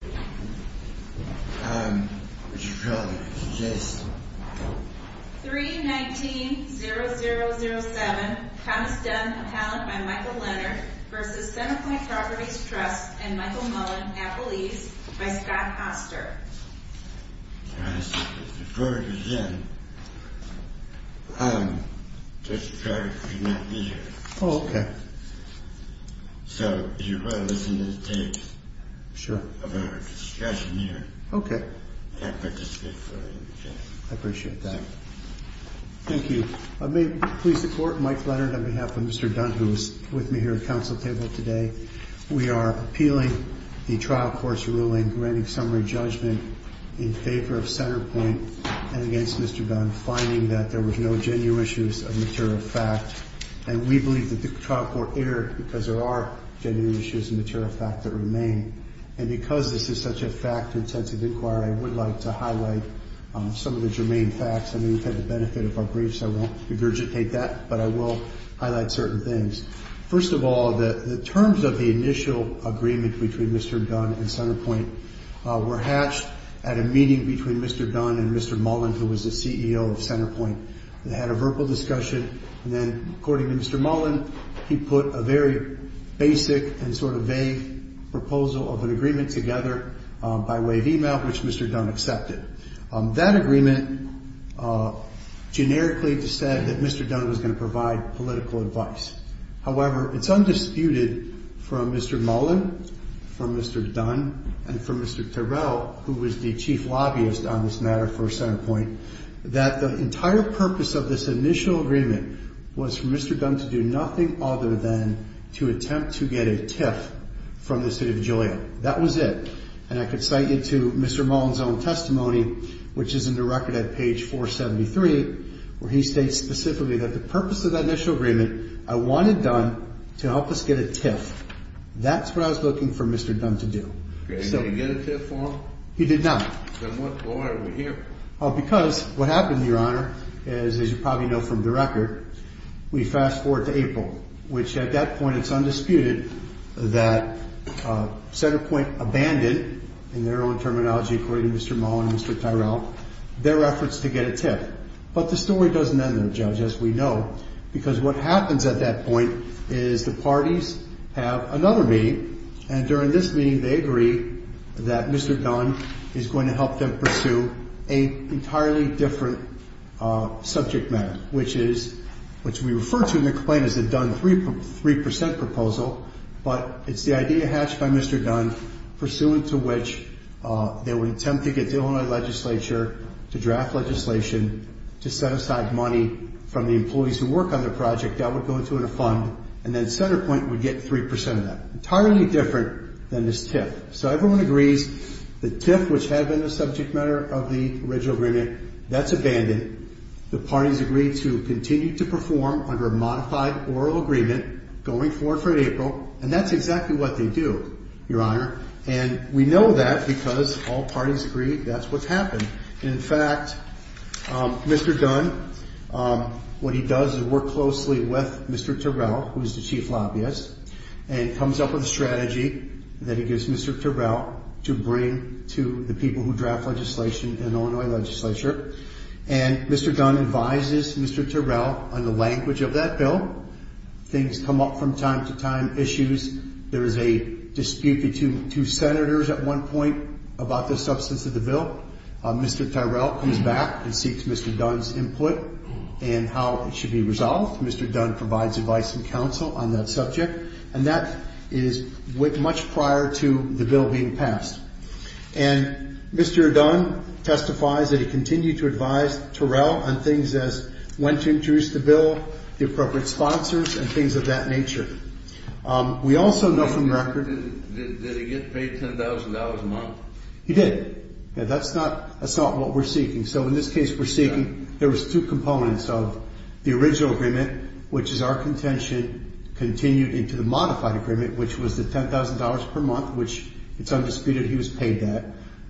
319-0007, Thomas Dunn, appellant by Michael Leonard, versus Centerpoint Properties Trust and Michael Mullen, appellees, by Scott Poster. Before we begin, I'm just trying to connect you here. So, you're going to listen to the tapes of our discussion here. And participate fully in the case. And because this is such a fact-intensive inquiry, I would like to highlight some of the germane facts. I mean, we've had the benefit of our briefs, so I won't regurgitate that. But I will highlight certain things. First of all, the terms of the initial agreement between Mr. Dunn and Centerpoint were hatched at a meeting between Mr. Dunn and Mr. Mullen, who was the CEO of Centerpoint. They had a verbal discussion. And then, according to Mr. Mullen, he put a very basic and sort of vague proposal of an agreement together by way of email, which Mr. Dunn accepted. That agreement generically said that Mr. Dunn was going to provide political advice. However, it's undisputed from Mr. Mullen, from Mr. Dunn, and from Mr. Terrell, who was the chief lobbyist on this matter for Centerpoint, that the entire purpose of this initial agreement was for Mr. Dunn to do nothing other than to attempt to get a tip from the City of Joliet. That was it. And I could cite you to Mr. Mullen's own testimony, which is in the record at page 473, where he states specifically that the purpose of that initial agreement, I wanted Dunn to help us get a tip. That's what I was looking for Mr. Dunn to do. Did he get a tip from him? He did not. Then why are we here? Because what happened, Your Honor, is, as you probably know from the record, we fast forward to April, which at that point it's undisputed that Centerpoint abandoned, in their own terminology, according to Mr. Mullen and Mr. Terrell, their efforts to get a tip. But the story doesn't end there, Judge, as we know, because what happens at that point is the parties have another meeting, and during this meeting they agree that Mr. Dunn is going to help them pursue an entirely different subject matter, which we refer to in the claim as the Dunn 3% proposal, but it's the idea hatched by Mr. Dunn, pursuant to which they would attempt to get the Illinois legislature to draft legislation to set aside money from the employees who work on the project that would go into a fund, and then Centerpoint would get 3% of that. Entirely different than this tip. So everyone agrees the tip, which had been the subject matter of the original agreement, that's abandoned. The parties agree to continue to perform under a modified oral agreement going forward for April, and that's exactly what they do, Your Honor. And we know that because all parties agree that's what's happened. In fact, Mr. Dunn, what he does is work closely with Mr. Terrell, who is the chief lobbyist, and comes up with a strategy that he gives Mr. Terrell to bring to the people who draft legislation in the Illinois legislature. And Mr. Dunn advises Mr. Terrell on the language of that bill. Things come up from time to time, issues. There is a dispute between two senators at one point about the substance of the bill. Mr. Terrell comes back and seeks Mr. Dunn's input in how it should be resolved. Mr. Dunn provides advice and counsel on that subject, and that is much prior to the bill being passed. And Mr. Dunn testifies that he continued to advise Terrell on things as when to introduce the bill, the appropriate sponsors, and things of that nature. We also know from record- Did he get paid $10,000 a month? He did. That's not what we're seeking. So in this case we're seeking- Yeah. There was two components of the original agreement, which is our contention, continued into the modified agreement, which was the $10,000 per month, which it's undisputed he was paid that.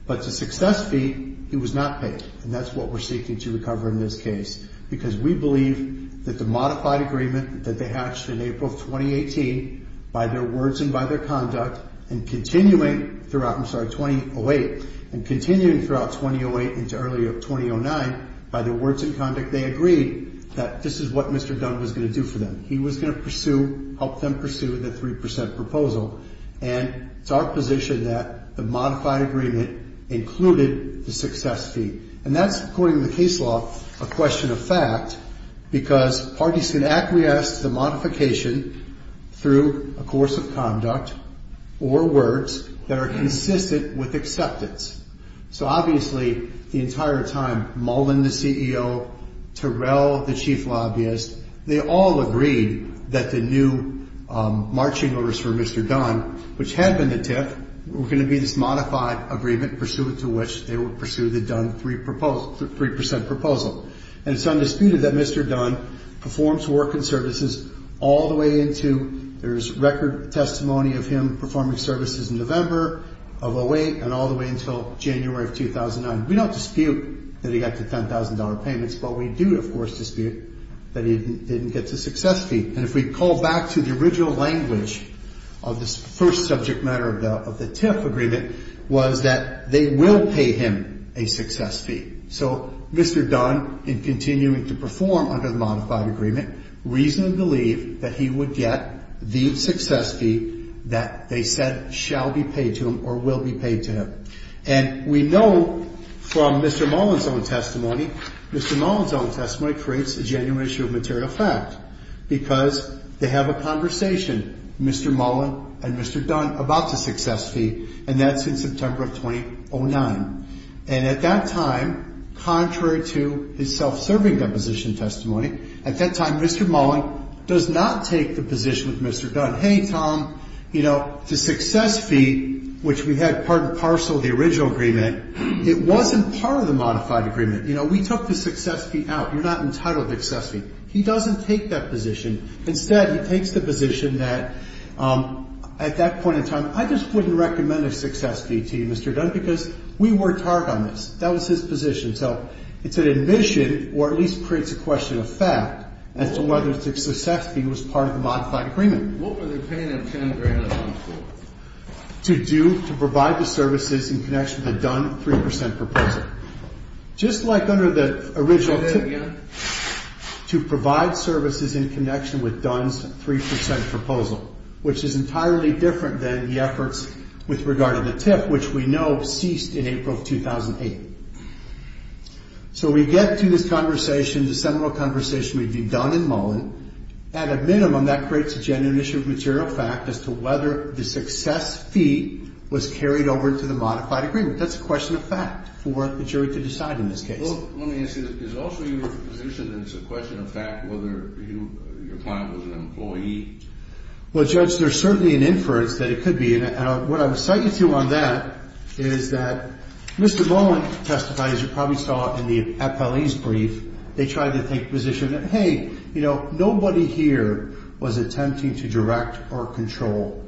But the success fee, he was not paid. And that's what we're seeking to recover in this case. Because we believe that the modified agreement that they hatched in April of 2018, by their words and by their conduct, and continuing throughout- I'm sorry, 2008. And continuing throughout 2008 into early 2009, by their words and conduct, they agreed that this is what Mr. Dunn was going to do for them. He was going to help them pursue the 3% proposal. And it's our position that the modified agreement included the success fee. And that's, according to the case law, a question of fact, because parties can acquiesce to the modification through a course of conduct or words that are consistent with acceptance. So obviously, the entire time, Mullen, the CEO, Terrell, the chief lobbyist, they all agreed that the new marching orders for Mr. Dunn, which had been the TIF, were going to be this modified agreement pursuant to which they would pursue the Dunn 3% proposal. And it's undisputed that Mr. Dunn performs work and services all the way into- there's record testimony of him performing services in November of 2008 and all the way until January of 2009. We don't dispute that he got the $10,000 payments. But we do, of course, dispute that he didn't get the success fee. And if we call back to the original language of this first subject matter of the TIF agreement, was that they will pay him a success fee. So Mr. Dunn, in continuing to perform under the modified agreement, reasonably believed that he would get the success fee that they said shall be paid to him or will be paid to him. And we know from Mr. Mullen's own testimony, Mr. Mullen's own testimony creates a genuine issue of material fact because they have a conversation, Mr. Mullen and Mr. Dunn, about the success fee, and that's in September of 2009. And at that time, contrary to his self-serving deposition testimony, at that time Mr. Mullen does not take the position with Mr. Dunn, hey, Tom, you know, the success fee, which we had part and parcel of the original agreement, it wasn't part of the modified agreement. You know, we took the success fee out. You're not entitled to the success fee. He doesn't take that position. Instead, he takes the position that at that point in time, I just wouldn't recommend a success fee to you, Mr. Dunn, because we worked hard on this. That was his position. So it's an admission or at least creates a question of fact as to whether the success fee was part of the modified agreement. What were they paying him $10,000 for? To do, to provide the services in connection with the Dunn 3% proposal. Just like under the original, to provide services in connection with Dunn's 3% proposal, which is entirely different than the efforts with regard to the TIF, which we know ceased in April of 2008. So we get to this conversation, this seminal conversation with Dunn and Mullen. At a minimum, that creates a genuine issue of material fact as to whether the success fee was carried over to the modified agreement. That's a question of fact for the jury to decide in this case. Well, let me ask you this. Is it also your position that it's a question of fact whether your client was an employee? Well, Judge, there's certainly an inference that it could be. And what I would cite you to on that is that Mr. Mullen testified, as you probably saw in the appellee's brief, they tried to take the position that, hey, you know, nobody here was attempting to direct or control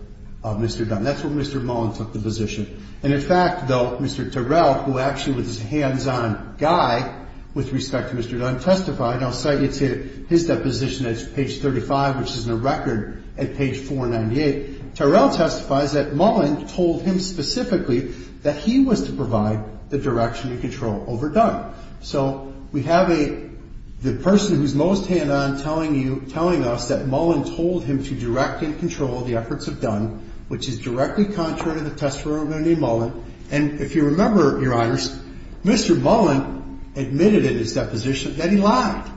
Mr. Dunn. That's where Mr. Mullen took the position. And in fact, though, Mr. Terrell, who actually was this hands-on guy with respect to Mr. Dunn, testified, and I'll cite you to his deposition that's page 35, which is in the record at page 498. Terrell testifies that Mullen told him specifically that he was to provide the direction and control over Dunn. So we have the person who's most hands-on telling us that Mullen told him to direct and control the efforts of Dunn, which is directly contrary to the testimony of Mullen. And if you remember, Your Honors, Mr. Mullen admitted in his deposition that he lied.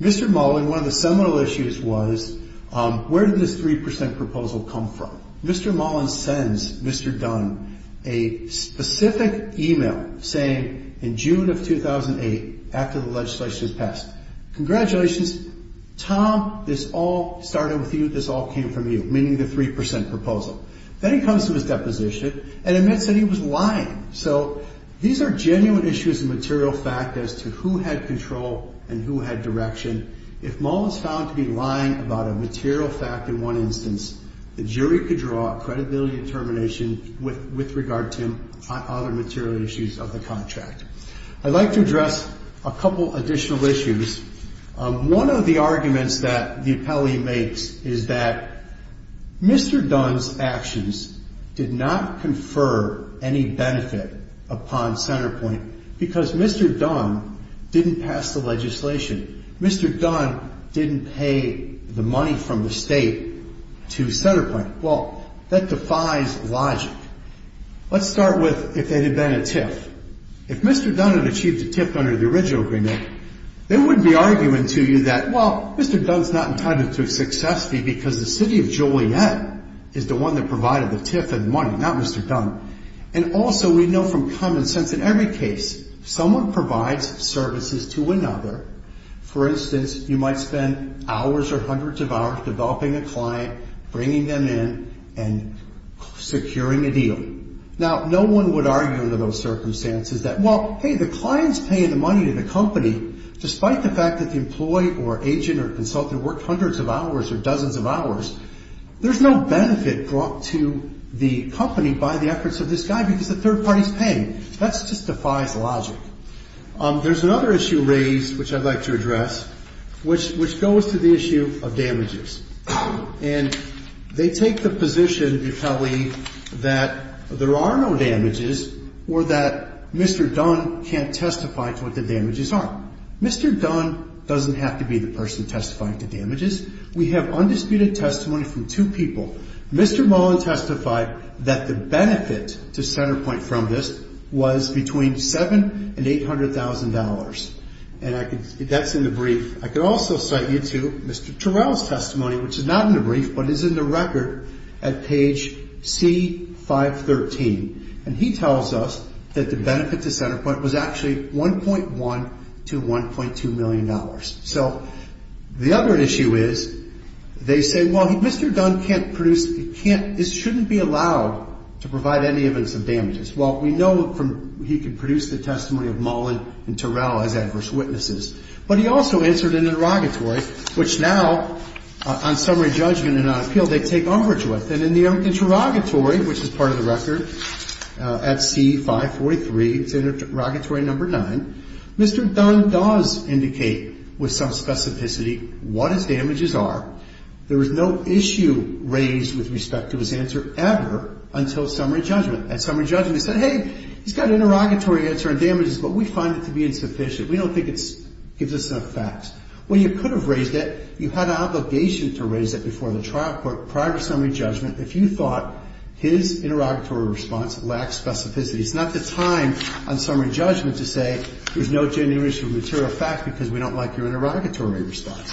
Mr. Mullen, one of the seminal issues was where did this 3 percent proposal come from? Well, Mr. Mullen sends Mr. Dunn a specific e-mail saying in June of 2008, after the legislation was passed, congratulations, Tom, this all started with you, this all came from you, meaning the 3 percent proposal. Then he comes to his deposition and admits that he was lying. So these are genuine issues of material fact as to who had control and who had direction. If Mullen was found to be lying about a material fact in one instance, the jury could draw a credibility determination with regard to other material issues of the contract. I'd like to address a couple additional issues. One of the arguments that the appellee makes is that Mr. Dunn's actions did not confer any benefit upon Centerpoint because Mr. Dunn didn't pass the legislation. Mr. Dunn didn't pay the money from the state to Centerpoint. Well, that defies logic. Let's start with if they had been a TIF. If Mr. Dunn had achieved a TIF under the original agreement, they wouldn't be arguing to you that, well, Mr. Dunn's not entitled to a success fee because the city of Joliet is the one that provided the TIF and money, not Mr. Dunn. And also we know from common sense in every case someone provides services to another. For instance, you might spend hours or hundreds of hours developing a client, bringing them in, and securing a deal. Now, no one would argue under those circumstances that, well, hey, the client's paying the money to the company despite the fact that the employee or agent or consultant worked hundreds of hours or dozens of hours. There's no benefit brought to the company by the efforts of this guy because the third party's paying. That just defies logic. There's another issue raised, which I'd like to address, which goes to the issue of damages. And they take the position, if you'll believe, that there are no damages or that Mr. Dunn can't testify to what the damages are. Mr. Dunn doesn't have to be the person testifying to damages. We have undisputed testimony from two people. Mr. Mullen testified that the benefit to CenterPoint from this was between $700,000 and $800,000. And that's in the brief. I could also cite you to Mr. Terrell's testimony, which is not in the brief, but is in the record at page C513. And he tells us that the benefit to CenterPoint was actually $1.1 to $1.2 million. So the other issue is they say, well, Mr. Dunn can't produce, can't, shouldn't be allowed to provide any evidence of damages. Well, we know he can produce the testimony of Mullen and Terrell as adverse witnesses. But he also answered an interrogatory, which now, on summary judgment and on appeal, they take umbrage with. And in the interrogatory, which is part of the record at C543, interrogatory number 9, Mr. Dunn does indicate with some specificity what his damages are. There was no issue raised with respect to his answer ever until summary judgment. At summary judgment, he said, hey, he's got an interrogatory answer on damages, but we find it to be insufficient. We don't think it gives us enough facts. Well, you could have raised it, you had an obligation to raise it before the trial court prior to summary judgment if you thought his interrogatory response lacked specificity. It's not the time on summary judgment to say there's no genuine issue of material fact because we don't like your interrogatory response.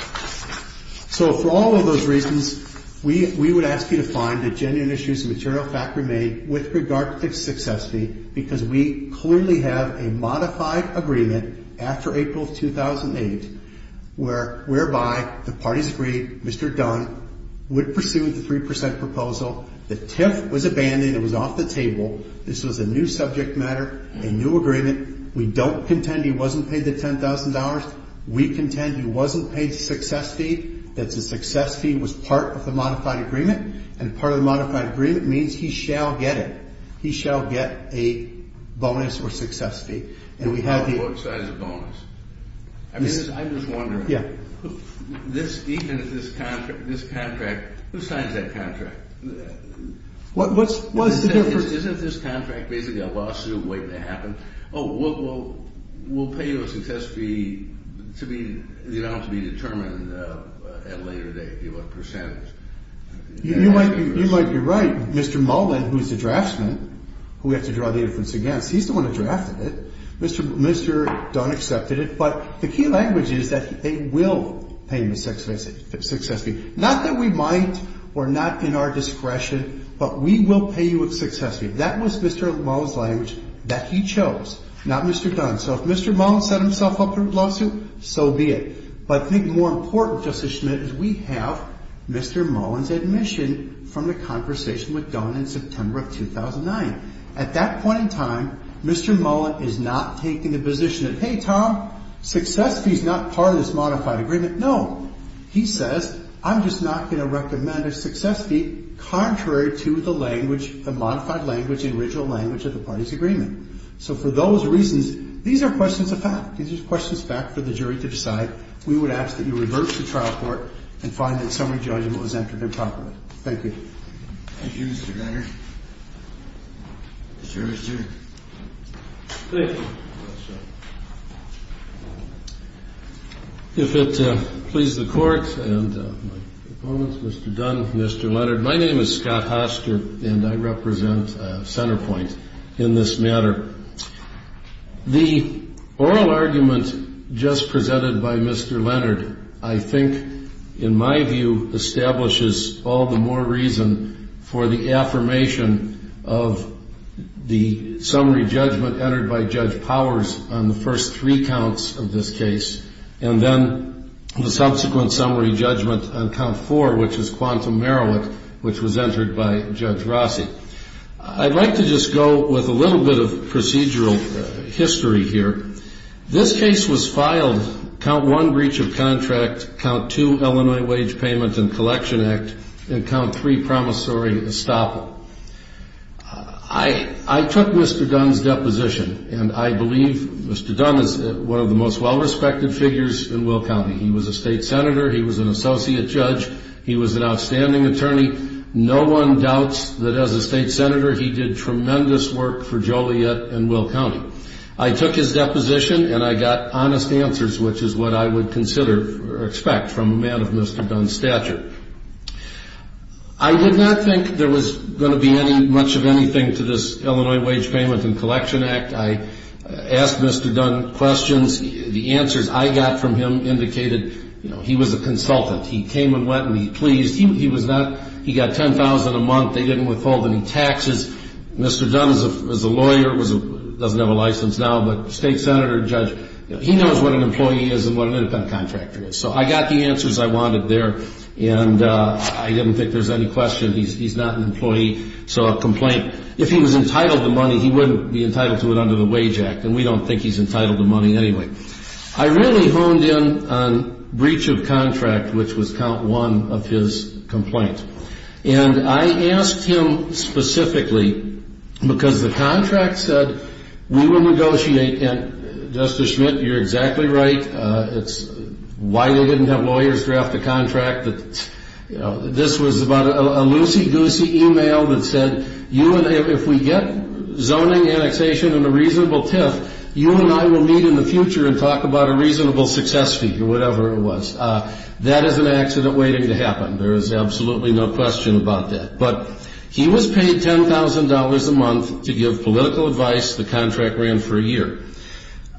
So for all of those reasons, we would ask you to find that genuine issues of material fact remain with regard to its success because we clearly have a modified agreement after April 2008 whereby the parties agreed Mr. Dunn would pursue the 3 percent proposal. The TIF was abandoned. It was off the table. This was a new subject matter, a new agreement. We don't contend he wasn't paid the $10,000. We contend he wasn't paid the success fee, that the success fee was part of the modified agreement, and part of the modified agreement means he shall get it. He shall get a bonus or success fee. And we have the – What size bonus? I'm just wondering. Yeah. This contract, who signs that contract? What's the difference? Isn't this contract basically a lawsuit waiting to happen? Oh, we'll pay you a success fee to be determined at a later date, give a percentage. You might be right. Mr. Mullen, who's the draftsman, who we have to draw the inference against, he's the one that drafted it. Mr. Dunn accepted it. But the key language is that they will pay him a success fee. Not that we might or not in our discretion, but we will pay you a success fee. That was Mr. Mullen's language that he chose, not Mr. Dunn's. So if Mr. Mullen set himself up for a lawsuit, so be it. But I think more important, Justice Schmitt, is we have Mr. Mullen's admission from the conversation with Dunn in September of 2009. At that point in time, Mr. Mullen is not taking the position that, hey, Tom, success fee's not part of this modified agreement. No. He says, I'm just not going to recommend a success fee contrary to the language, the modified language, the original language of the party's agreement. So for those reasons, these are questions of fact. These are questions of fact for the jury to decide. We would ask that you revert to trial court and find that summary judgment was entered improperly. Thank you. Thank you, Mr. Greiner. The jury's adjourned. Thank you. If it pleases the court and my opponents, Mr. Dunn, Mr. Leonard, my name is Scott Hoster, and I represent Centerpoint in this matter. The oral argument just presented by Mr. Leonard, I think, in my view, establishes all the more reason for the affirmation of the summary judgment entered by Judge Powers on the first three counts of this case, and then the subsequent summary judgment on count four, which is Quantum Merowick, which was entered by Judge Rossi. I'd like to just go with a little bit of procedural history here. This case was filed, count one, breach of contract, count two, Illinois Wage Payment and Collection Act, and count three, promissory estoppel. I took Mr. Dunn's deposition, and I believe Mr. Dunn is one of the most well-respected figures in Will County. He was a state senator. He was an associate judge. He was an outstanding attorney. No one doubts that as a state senator, he did tremendous work for Joliet and Will County. I took his deposition, and I got honest answers, which is what I would consider or expect from a man of Mr. Dunn's stature. I did not think there was going to be much of anything to this Illinois Wage Payment and Collection Act. I asked Mr. Dunn questions. The answers I got from him indicated he was a consultant. He came and went, and he pleased. He got $10,000 a month. They didn't withhold any taxes. Mr. Dunn, as a lawyer, doesn't have a license now, but state senator, judge, he knows what an employee is and what an independent contractor is. So I got the answers I wanted there, and I didn't think there was any question. He's not an employee, so a complaint. If he was entitled to money, he wouldn't be entitled to it under the Wage Act, and we don't think he's entitled to money anyway. I really honed in on breach of contract, which was count one of his complaint. And I asked him specifically because the contract said we would negotiate, and Justice Schmidt, you're exactly right. It's why they didn't have lawyers draft the contract. This was about a loosey-goosey e-mail that said if we get zoning annexation and a reasonable TIF, you and I will meet in the future and talk about a reasonable success fee or whatever it was. That is an accident waiting to happen. There is absolutely no question about that. But he was paid $10,000 a month to give political advice. The contract ran for a year.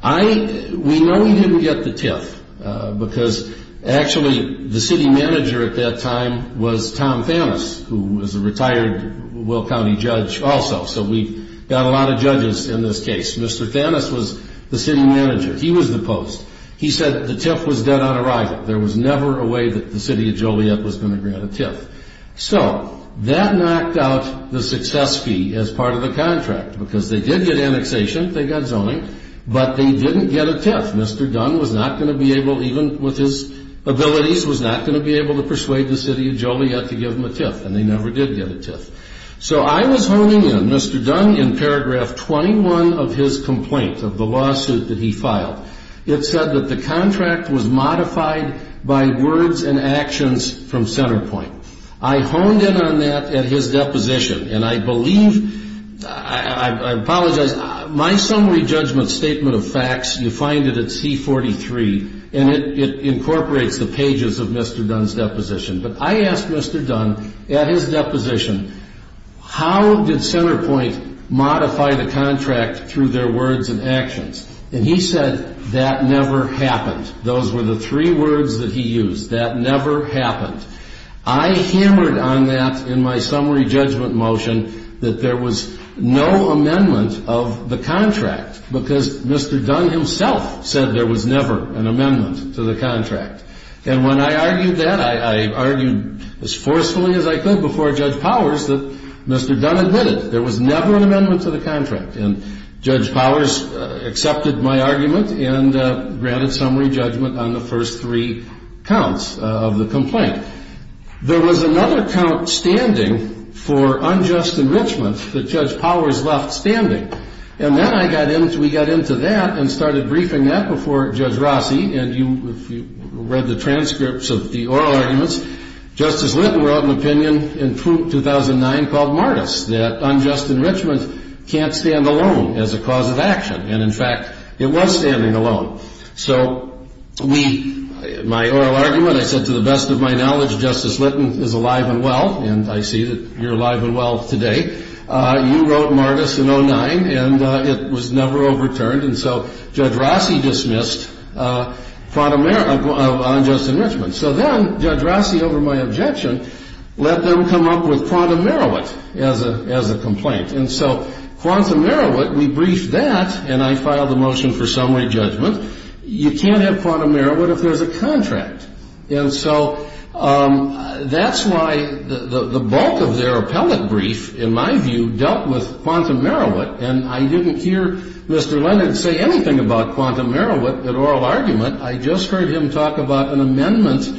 We know he didn't get the TIF because, actually, the city manager at that time was Tom Thanos, who was a retired Will County judge also, so we've got a lot of judges in this case. Mr. Thanos was the city manager. He was the post. He said the TIF was dead on arrival. There was never a way that the city of Joliet was going to grant a TIF. So that knocked out the success fee as part of the contract because they did get annexation, they got zoning, but they didn't get a TIF. Mr. Dunn was not going to be able, even with his abilities, was not going to be able to persuade the city of Joliet to give him a TIF, and they never did get a TIF. So I was honing in. Mr. Dunn, in paragraph 21 of his complaint of the lawsuit that he filed, it said that the contract was modified by words and actions from CenterPoint. I honed in on that at his deposition, and I believe, I apologize, my summary judgment statement of facts, you find it at C43, and it incorporates the pages of Mr. Dunn's deposition. But I asked Mr. Dunn at his deposition, how did CenterPoint modify the contract through their words and actions? And he said, that never happened. Those were the three words that he used, that never happened. I hammered on that in my summary judgment motion that there was no amendment of the contract because Mr. Dunn himself said there was never an amendment to the contract. And when I argued that, I argued as forcefully as I could before Judge Powers that Mr. Dunn admitted there was never an amendment to the contract. And Judge Powers accepted my argument and granted summary judgment on the first three counts of the complaint. There was another count standing for unjust enrichment that Judge Powers left standing. And then I got into, we got into that and started briefing that before Judge Rossi, and you read the transcripts of the oral arguments. Justice Litton wrote an opinion in 2009 called Martis, that unjust enrichment can't stand alone as a cause of action. And in fact, it was standing alone. So my oral argument, I said to the best of my knowledge, Justice Litton is alive and well, and I see that you're alive and well today. You wrote Martis in 2009, and it was never overturned. And so Judge Rossi dismissed unjust enrichment. So then Judge Rossi, over my objection, let them come up with quantum meriwet as a complaint. And so quantum meriwet, we briefed that, and I filed a motion for summary judgment. You can't have quantum meriwet if there's a contract. And so that's why the bulk of their appellate brief, in my view, dealt with quantum meriwet. And I didn't hear Mr. Leonard say anything about quantum meriwet at oral argument. I just heard him talk about an amendment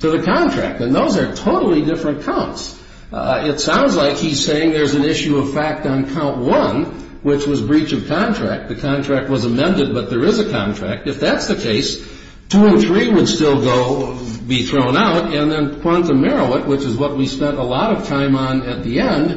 to the contract, and those are totally different counts. It sounds like he's saying there's an issue of fact on count one, which was breach of contract. The contract was amended, but there is a contract. If that's the case, 203 would still go be thrown out, and then quantum meriwet, which is what we spent a lot of time on at the end,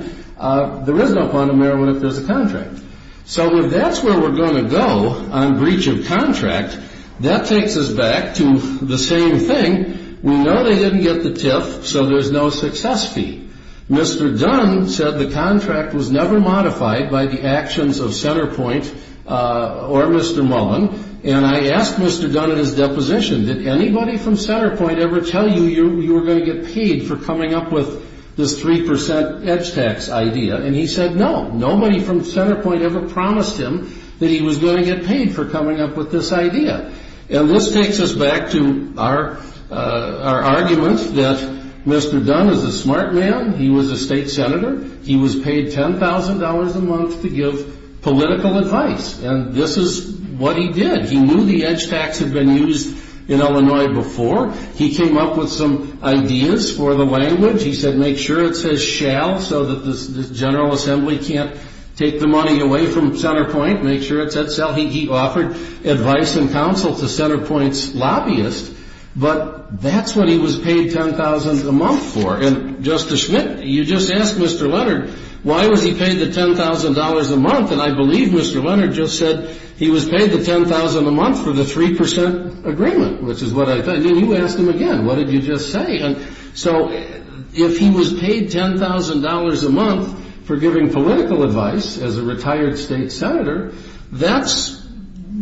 there is no quantum meriwet if there's a contract. So if that's where we're going to go on breach of contract, that takes us back to the same thing. We know they didn't get the TIF, so there's no success fee. Mr. Dunn said the contract was never modified by the actions of Centerpoint or Mr. Mullen, and I asked Mr. Dunn at his deposition, did anybody from Centerpoint ever tell you you were going to get paid for coming up with this 3% edge tax idea? And he said no, nobody from Centerpoint ever promised him that he was going to get paid for coming up with this idea. And this takes us back to our argument that Mr. Dunn is a smart man. He was a state senator. He was paid $10,000 a month to give political advice, and this is what he did. He knew the edge tax had been used in Illinois before. He came up with some ideas for the language. He said make sure it says shall so that the General Assembly can't take the money away from Centerpoint. Make sure it says shall. He offered advice and counsel to Centerpoint's lobbyists, but that's what he was paid $10,000 a month for. And Justice Schmitt, you just asked Mr. Leonard why was he paid the $10,000 a month, and I believe Mr. Leonard just said he was paid the $10,000 a month for the 3% agreement, which is what I thought. And then you asked him again, what did you just say? And so if he was paid $10,000 a month for giving political advice as a retired state senator, that's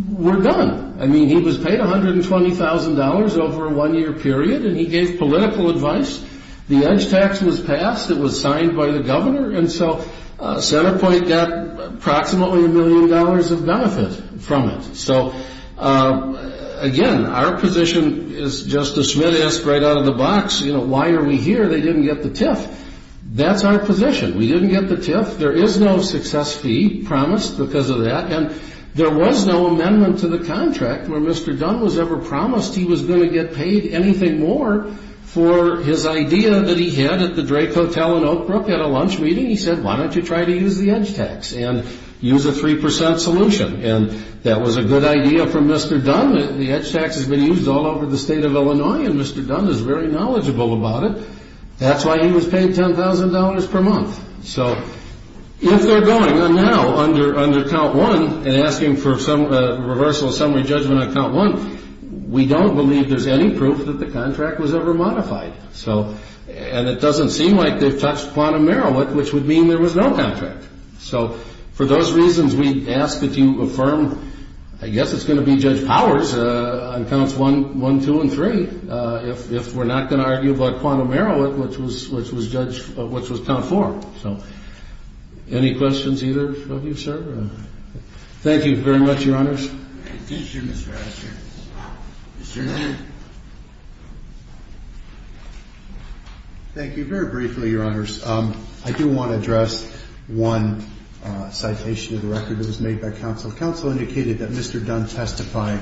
we're done. I mean, he was paid $120,000 over a one-year period, and he gave political advice. The edge tax was passed. It was signed by the governor, and so Centerpoint got approximately a million dollars of benefit from it. So, again, our position is Justice Schmitt asked right out of the box, you know, why are we here? They didn't get the TIF. That's our position. We didn't get the TIF. There is no success fee promised because of that, and there was no amendment to the contract where Mr. Dunn was ever promised he was going to get paid anything more for his idea that he had at the Drake Hotel in Oak Brook at a lunch meeting. He said, why don't you try to use the edge tax and use a 3% solution? And that was a good idea from Mr. Dunn. The edge tax has been used all over the state of Illinois, and Mr. Dunn is very knowledgeable about it. That's why he was paid $10,000 per month. So if they're going now under count one and asking for a reversal of summary judgment on count one, we don't believe there's any proof that the contract was ever modified. And it doesn't seem like they've touched quantum Merowith, which would mean there was no contract. So for those reasons, we ask that you affirm, I guess it's going to be Judge Powers on counts one, two, and three, if we're not going to argue about quantum Merowith, which was count four. So any questions either of you, sir? Thank you very much, Your Honors. Thank you, Mr. Asher. Mr. Dunn. Thank you. Very briefly, Your Honors, I do want to address one citation of the record that was made by counsel. Counsel indicated that Mr. Dunn testified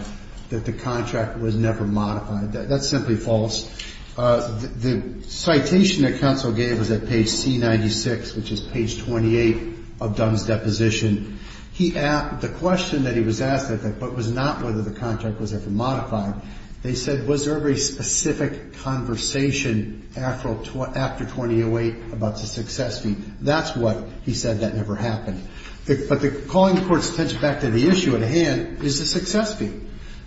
that the contract was never modified. That's simply false. The citation that counsel gave was at page C96, which is page 28 of Dunn's deposition. The question that he was asked, I think, but was not whether the contract was ever modified, they said was there a very specific conversation after 2008 about the success fee. That's what he said, that never happened. But calling the Court's attention back to the issue at hand is the success fee.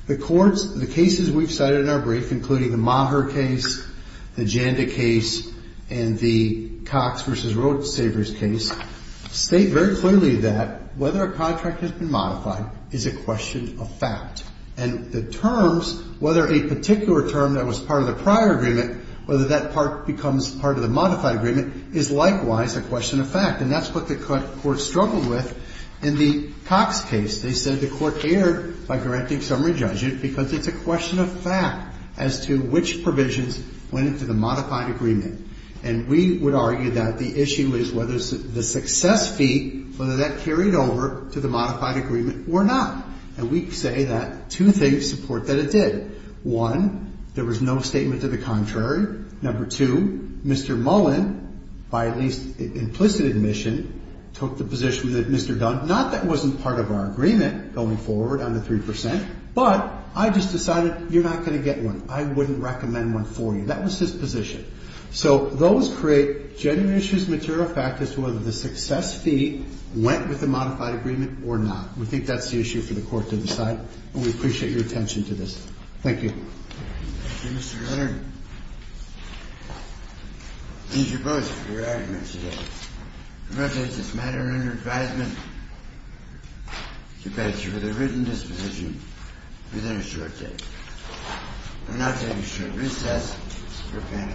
The cases we've cited in our brief, including the Maher case, the Janda case, and the Cox v. Road Savers case, state very clearly that whether a contract has been modified is a question of fact. And the terms, whether a particular term that was part of the prior agreement, whether that part becomes part of the modified agreement, is likewise a question of fact. And that's what the Court struggled with in the Cox case. They said the Court erred by correcting summary judgment because it's a question of fact as to which provisions went into the modified agreement. And we would argue that the issue is whether the success fee, whether that carried over to the modified agreement or not. And we say that two things support that it did. One, there was no statement to the contrary. Number two, Mr. Mullen, by at least implicit admission, took the position that Mr. Dunn, not that it wasn't part of our agreement going forward on the 3%, but I just decided you're not going to get one. I wouldn't recommend one for you. That was his position. So those create genuine issues of material fact as to whether the success fee went with the modified agreement or not. We think that's the issue for the Court to decide. And we appreciate your attention to this. Thank you. Thank you, Mr. Leonard. Thank you both for your arguments today. I present this matter under advisement to pass with a written disposition within a short date. I'm now taking a short recess for panel discussion.